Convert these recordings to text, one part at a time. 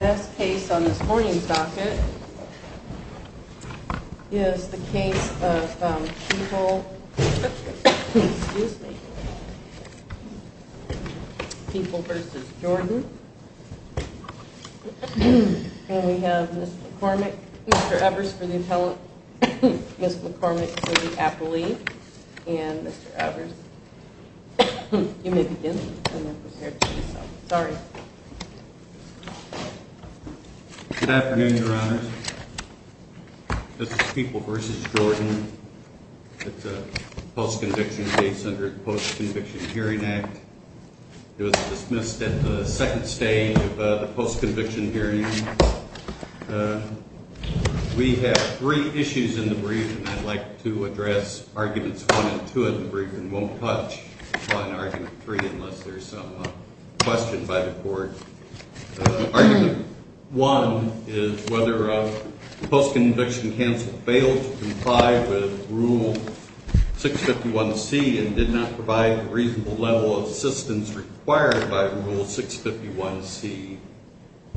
This case on this morning's docket is the case of People v. Jordan, and we have Mr. Evers for the appellate, Ms. McCormick for the appellee, and Mr. Evers. You may begin. Good afternoon, Your Honors. This is People v. Jordan. It's a post-conviction case under the Post-Conviction Hearing Act. It was dismissed at the second stage of the post-conviction hearing. We have three issues in the brief, and I'd like to address arguments one and two in the brief, and won't touch on argument three unless there's some question by the court. Argument one is whether the post-conviction counsel failed to comply with Rule 651C and did not provide the reasonable level of assistance required by Rule 651C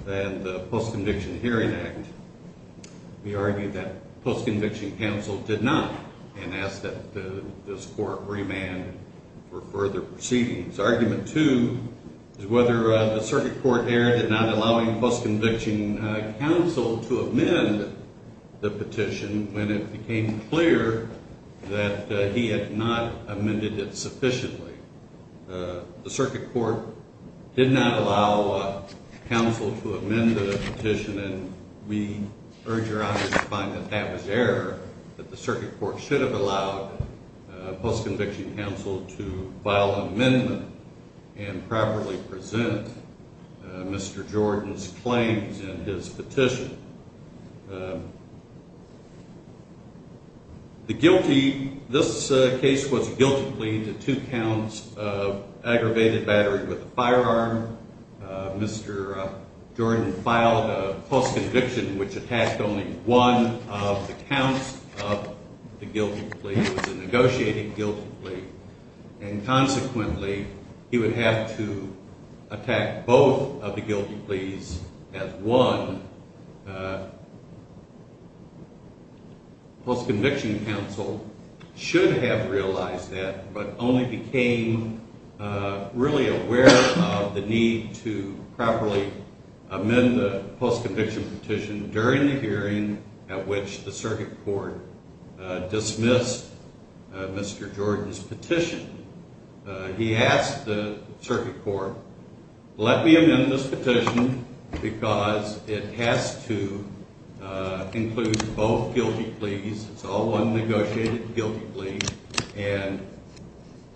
and the Post-Conviction Hearing Act. We argue that the post-conviction counsel did not and ask that this court remand for further proceedings. Argument two is whether the circuit court erred in not allowing post-conviction counsel to amend the petition when it became clear that he had not amended it sufficiently. The circuit court did not allow counsel to amend the petition, and we urge Your Honors to find that that was error, that the circuit court should have allowed post-conviction counsel to file an amendment and properly present Mr. Jordan's claims in his petition. The guilty – this case was guilty plea to two counts of aggravated battery with a firearm. Mr. Jordan filed a post-conviction which attacked only one of the counts of the guilty plea. It was a negotiated guilty plea, and consequently, he would have to attack both of the guilty pleas as one. Post-conviction counsel should have realized that but only became really aware of the need to properly amend the post-conviction petition during the hearing at which the circuit court dismissed Mr. Jordan's petition. He asked the circuit court, let me amend this petition because it has to include both guilty pleas. It's all one negotiated guilty plea, and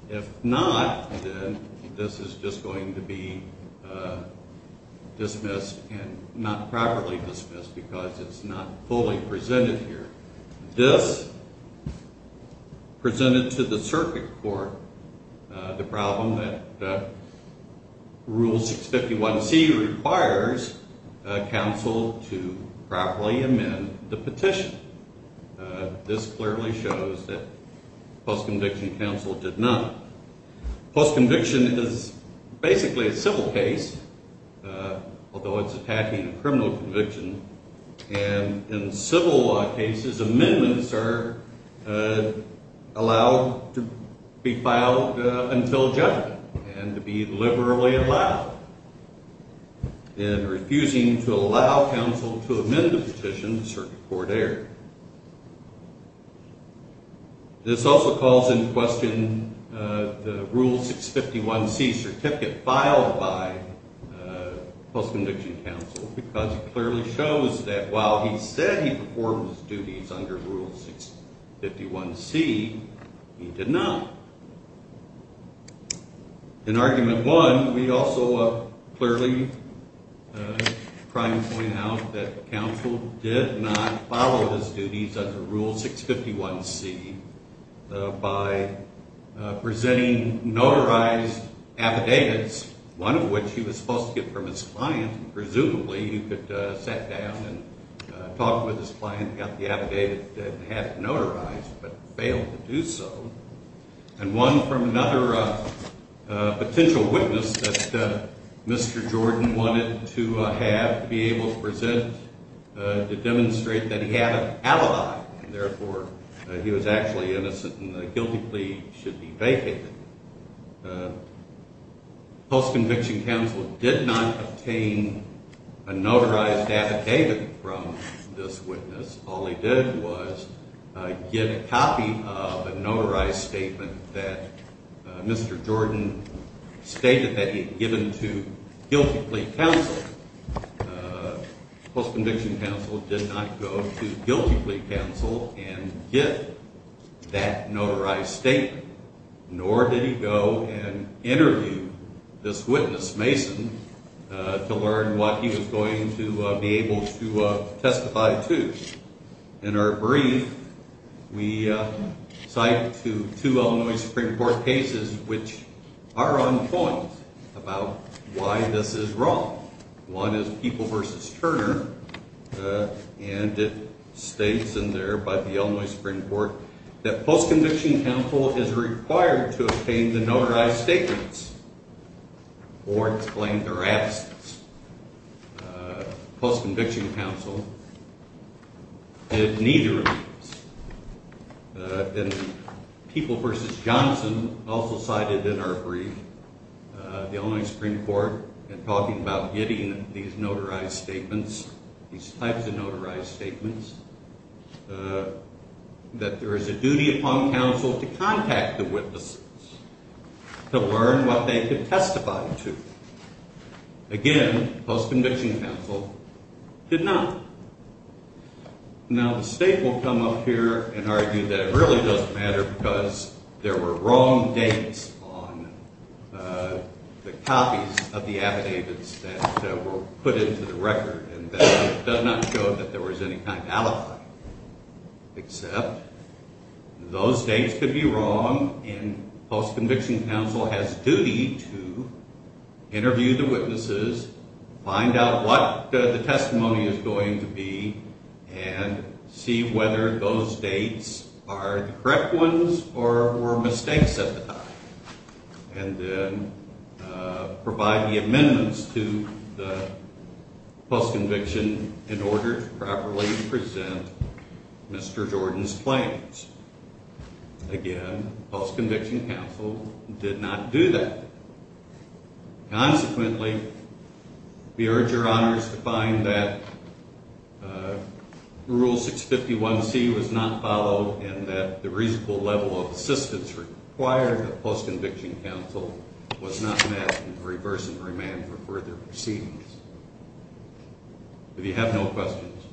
if not, then this is just going to be dismissed and not properly dismissed because it's not fully presented here. This presented to the circuit court the problem that Rule 651C requires counsel to properly amend the petition. This clearly shows that post-conviction counsel did not. Post-conviction is basically a civil case, although it's attacking a criminal conviction. In civil law cases, amendments are allowed to be filed until judgment and to be liberally allowed, and refusing to allow counsel to amend the petition, the circuit court erred. This also calls into question the Rule 651C certificate filed by post-conviction counsel because it clearly shows that while he said he performed his duties under Rule 651C, he did not. In Argument 1, we also clearly try to point out that counsel did not follow his duties under Rule 651C by presenting notarized affidavits, one of which he was supposed to get from his client. Presumably, he could sit down and talk with his client and get the affidavit and have it notarized, but failed to do so, and one from another potential witness that Mr. Jordan wanted to have be able to present to demonstrate that he had an alibi, and therefore, he was actually innocent and the guilty plea should be vacated. Post-conviction counsel did not obtain a notarized affidavit from this witness. All he did was get a copy of a notarized statement that Mr. Jordan stated that he had given to guilty plea counsel. Post-conviction counsel did not go to guilty plea counsel and get that notarized statement, nor did he go and interview this witness, Mason, to learn what he was going to be able to testify to. In our brief, we cite two Illinois Supreme Court cases which are on point about why this is wrong. One is People v. Turner, and it states in there by the Illinois Supreme Court that post-conviction counsel is required to obtain the notarized statements or explain their absence. Post-conviction counsel did neither of these. And People v. Johnson also cited in our brief the Illinois Supreme Court in talking about getting these notarized statements, these types of notarized statements, that there is a duty upon counsel to contact the witnesses to learn what they could testify to. Again, post-conviction counsel did not. Now, the State will come up here and argue that it really doesn't matter because there were wrong dates on the copies of the affidavits that were put into the record and that it does not show that there was any kind of alibi. Except those dates could be wrong, and post-conviction counsel has duty to interview the witnesses, find out what the testimony is going to be, and see whether those dates are correct ones or were mistakes at the time. And then provide the amendments to the post-conviction in order to properly present Mr. Jordan's claims. Again, post-conviction counsel did not do that. Consequently, we urge your honors to find that Rule 651C was not followed and that the reasonable level of assistance required of post-conviction counsel was not met in reverse and remand for further proceedings. If you have no questions.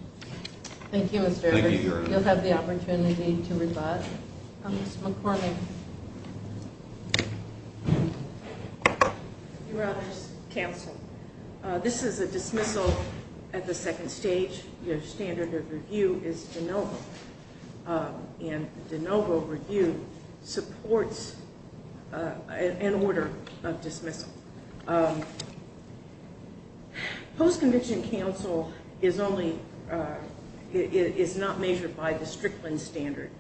Thank you, Mr. Evans. You'll have the opportunity to rebut. Ms. McCormick. Your honors, counsel. This is a dismissal at the second stage. Your standard of review is de novo. And de novo review supports an order of dismissal. Post-conviction counsel is not measured by the Strickland standard.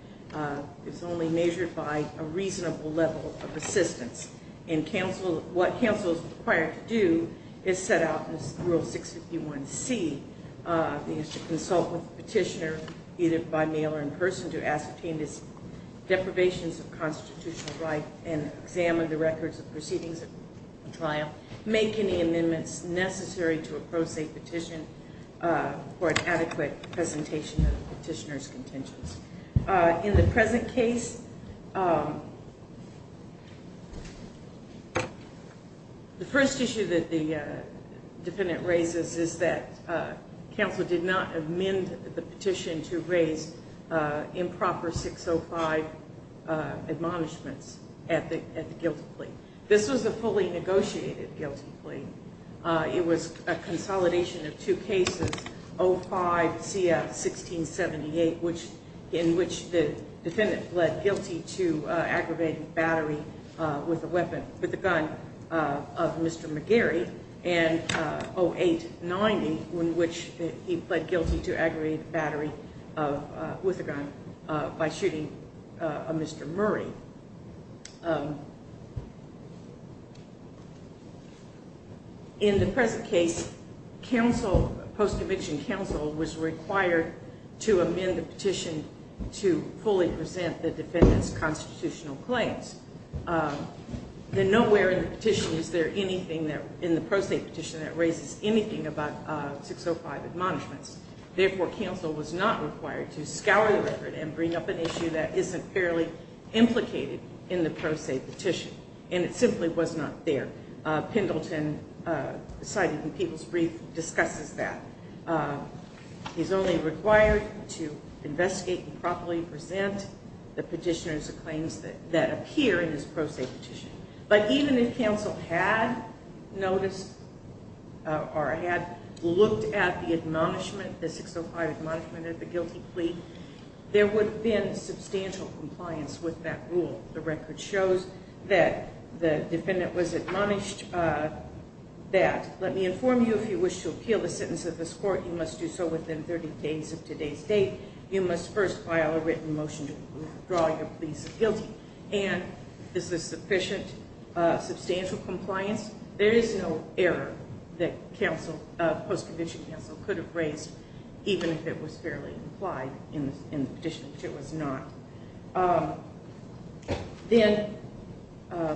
It's only measured by a reasonable level of assistance. And what counsel is required to do is set out in Rule 651C is to consult with the petitioner either by mail or in person to ascertain his deprivations of constitutional right and examine the records of proceedings of the trial, make any amendments necessary to approach a petition for an adequate presentation of the petitioner's contentions. In the present case, the first issue that the defendant raises is that counsel did not amend the petition to raise improper 605 admonishments at the guilty plea. This was a fully negotiated guilty plea. It was a consolidation of two cases, 05-CF-1678, in which the defendant pled guilty to aggravated battery with a weapon, with a gun of Mr. McGarry, and 08-90, in which he pled guilty to aggravated battery with a gun by shooting a Mr. Murray. In the present case, post-conviction counsel was required to amend the petition to fully present the defendant's constitutional claims. Nowhere in the pro se petition is there anything that raises anything about 605 admonishments. Therefore, counsel was not required to scour the record and bring up an issue that isn't fairly implicated in the pro se petition, and it simply was not there. Pendleton, cited in People's Brief, discusses that. He's only required to investigate and properly present the petitioner's claims that appear in his pro se petition. But even if counsel had noticed or had looked at the admonishment, the 605 admonishment at the guilty plea, there would have been substantial compliance with that rule. The record shows that the defendant was admonished that, let me inform you if you wish to appeal the sentence of this court, you must do so within 30 days of today's date. You must first file a written motion to withdraw your please of guilty. And is there sufficient, substantial compliance? There is no error that post-conviction counsel could have raised, even if it was fairly implied in the petition, which it was not. Then,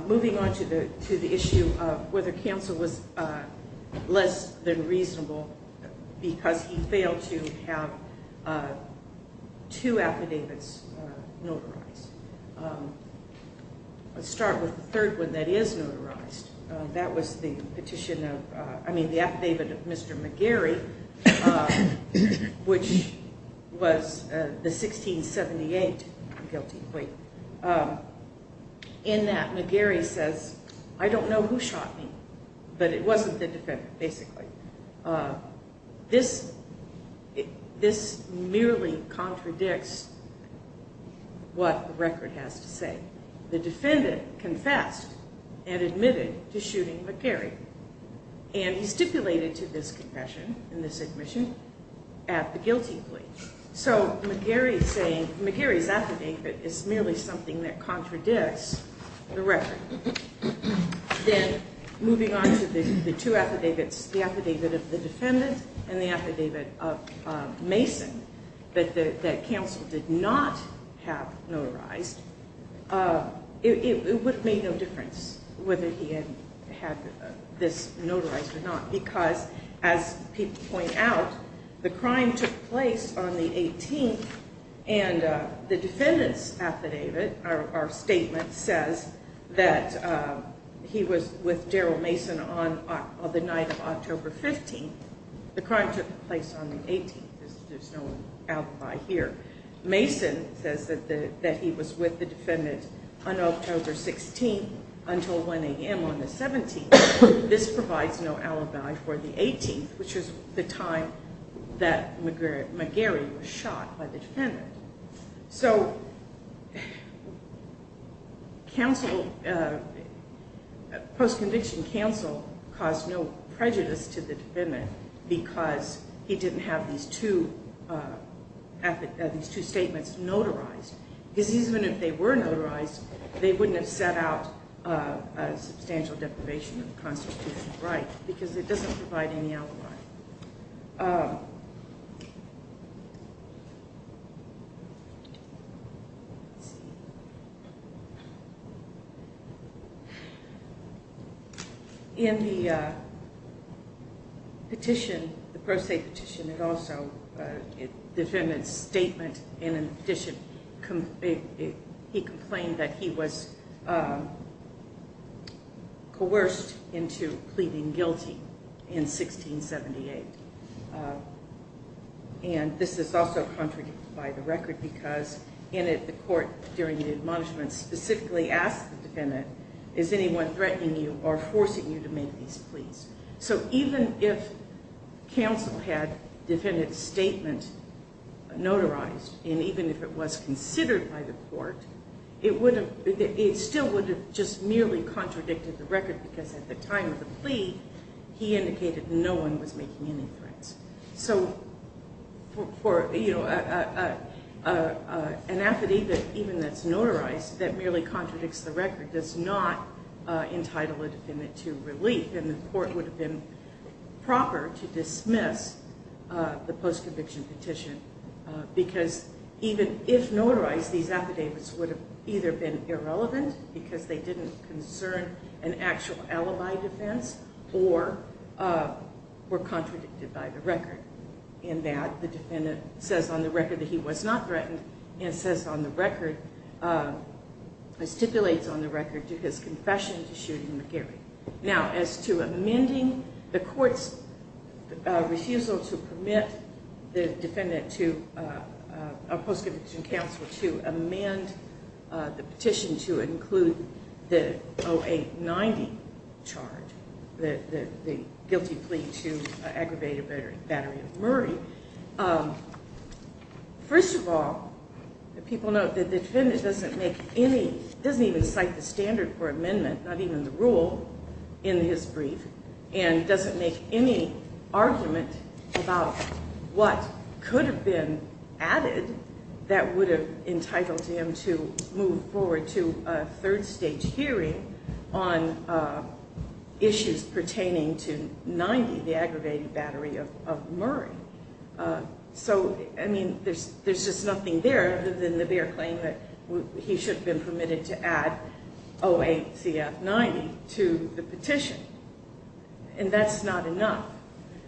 moving on to the issue of whether counsel was less than reasonable because he failed to have two affidavits notarized. Let's start with the third one that is notarized. That was the petition of, I mean, the affidavit of Mr. McGarry, which was the 1678 guilty plea. In that, McGarry says, I don't know who shot me, but it wasn't the defendant, basically. This merely contradicts what the record has to say. The defendant confessed and admitted to shooting McGarry. And he stipulated to this confession and this admission at the guilty plea. So, McGarry's affidavit is merely something that contradicts the record. Then, moving on to the two affidavits, the affidavit of the defendant and the affidavit of Mason that counsel did not have notarized. It would make no difference whether he had this notarized or not because, as people point out, the crime took place on the 18th and the defendant's affidavit, or statement, says that he was with Daryl Mason on the night of October 15th. The crime took place on the 18th. There's no alibi here. Mason says that he was with the defendant on October 16th until 1 a.m. on the 17th. This provides no alibi for the 18th, which was the time that McGarry was shot by the defendant. So, post-conviction counsel caused no prejudice to the defendant because he didn't have these two statements notarized. Because even if they were notarized, they wouldn't have set out a substantial deprivation of the constitutional right because it doesn't provide any alibi. In the Petition, the Pro Se Petition, the defendant's statement in addition, he complained that he was coerced into pleading guilty in 1617. And this is also contradicted by the record because in it, the court, during the admonishment, specifically asked the defendant, is anyone threatening you or forcing you to make these pleas? So even if counsel had defendant's statement notarized, and even if it was considered by the court, it still would have just merely contradicted the record because at the time of the plea, he indicated no one was making any threats. So, for an affidavit even that's notarized that merely contradicts the record does not entitle a defendant to relief and the court would have been proper to dismiss the post-conviction petition because even if notarized, these affidavits would have either been irrelevant because they didn't concern an actual alibi defense or were contradicted by the record. And that the defendant says on the record that he was not threatened and says on the record, stipulates on the record to his confession to shooting McGarry. Now, as to amending the court's refusal to permit the defendant to, a post-conviction counsel to amend the petition to include the 0890 charge, the guilty plea to aggravate a battery of Murray. First of all, the people know that the defendant doesn't make any, doesn't even cite the standard for amendment, not even the rule in his brief and doesn't make any argument about what could have been added that would have entitled him to move forward to a third stage hearing on issues pertaining to 90, the aggravated battery of Murray. So, I mean, there's just nothing there other than the bare claim that he should have been permitted to add 08CF90 to the petition and that's not enough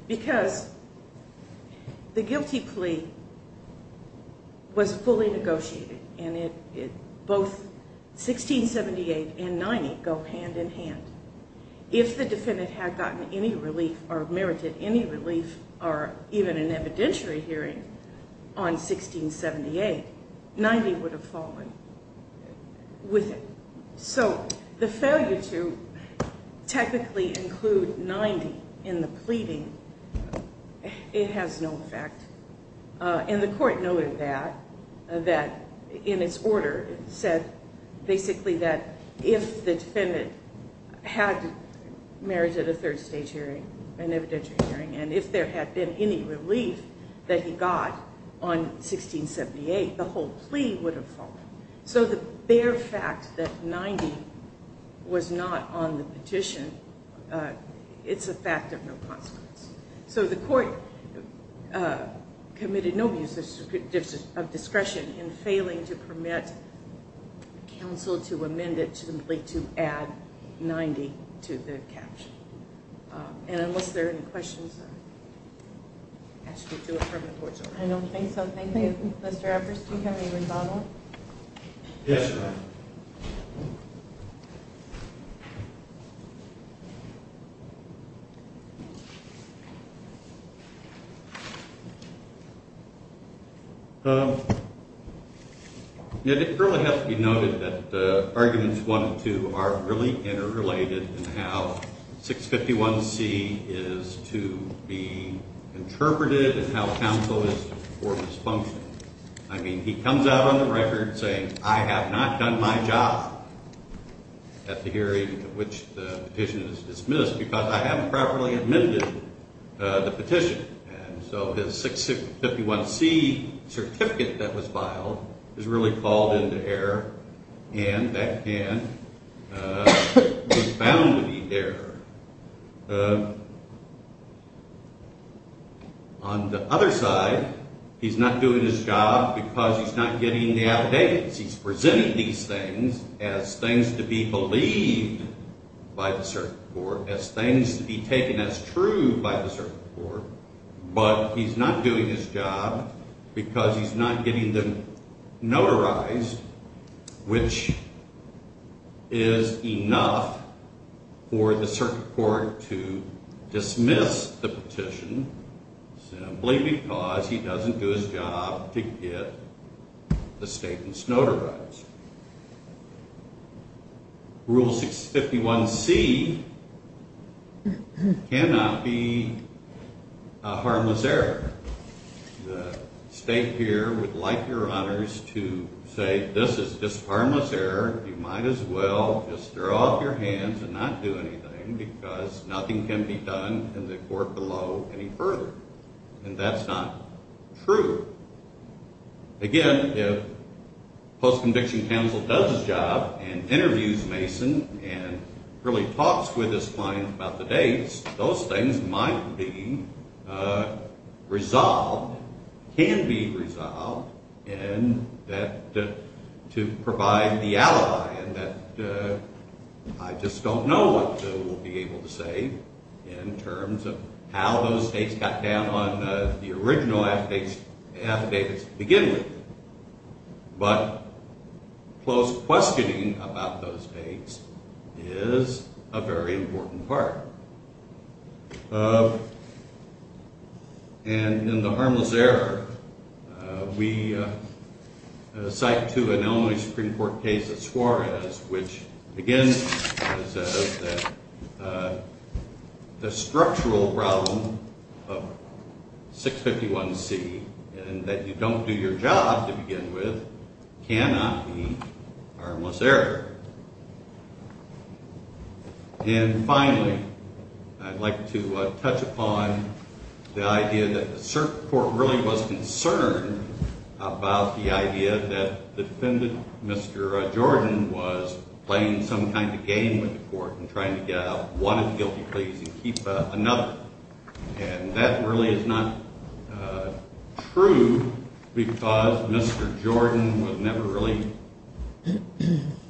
because the guilty plea was fully negotiated and both 1678 and 90 go hand in hand. If the defendant had gotten any relief or merited any relief or even an evidentiary hearing on 1678, 90 would have fallen with it. So, the failure to technically include 90 in the pleading, it has no effect and the court noted that in its order, it said basically that if the defendant had merited a third stage hearing, an evidentiary hearing, and if there had been any relief that he got on 1678, the whole plea would have fallen. So, the bare fact that 90 was not on the petition, it's a fact of no consequence. So, the court committed no abuse of discretion in failing to permit counsel to amend it simply to add 90 to the caption. And unless there are any questions, I'll ask you to do it from the court's office. I don't think so. Thank you. Mr. Eppers, do you have any rebuttal? Yes, Your Honor. It really has to be noted that arguments 1 and 2 are really interrelated in how 651C is to be interpreted and how counsel is to perform this function. I mean, he comes out on the record saying, I have not done my job at the hearing at which the petition is dismissed because I haven't properly admitted the petition. And so, his 651C certificate that was filed is really called into error and that can be found to be error. On the other side, he's not doing his job because he's not getting the affidavits. He's presenting these things as things to be believed by the circuit court, as things to be taken as true by the circuit court, but he's not doing his job because he's not getting them notarized, which is enough for the circuit court to dismiss the petition simply because he doesn't do his job to get the statements notarized. Rule 651C cannot be a harmless error. The State here would like Your Honors to say, this is just harmless error. You might as well just throw out your hands and not do anything because nothing can be done in the court below any further. And that's not true. Again, if post-conviction counsel does his job and interviews Mason and really talks with his client about the dates, those things might be resolved, can be resolved, and that to provide the alibi and that I just don't know what we'll be able to say in terms of how those dates got down on the original affidavits to begin with. But close questioning about those dates is a very important part. And in the harmless error, we cite to an Illinois Supreme Court case of Suarez, which again says that the structural problem of 651C and that you don't do your job to begin with cannot be harmless error. And finally, I'd like to touch upon the idea that the court really was concerned about the idea that the defendant, Mr. Jordan, was playing some kind of game with the court and trying to get out one of the guilty pleas and keep another. And that really is not true because Mr. Jordan was never really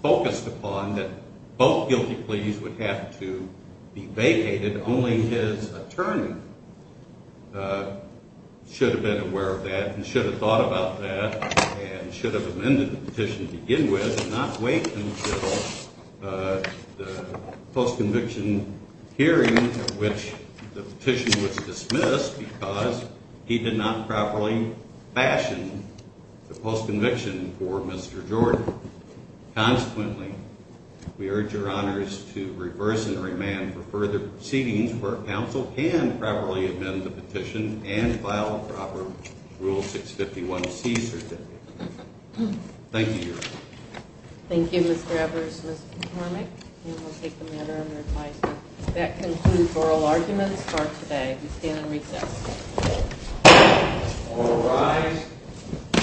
focused upon that both guilty pleas would have to be vacated. Only his attorney should have been aware of that and should have thought about that and should have amended the petition to begin with and not wait until the post-conviction hearing at which the petition was dismissed because he did not properly fashion the post-conviction for Mr. Jordan. Consequently, we urge your honors to reverse and remand for further proceedings where counsel can properly amend the petition and file a proper Rule 651C certificate. Thank you, Your Honor. Thank you, Mr. Evers, Ms. McCormick. And we'll take the matter under advisement. That concludes oral arguments for today. We stand in recess. All rise.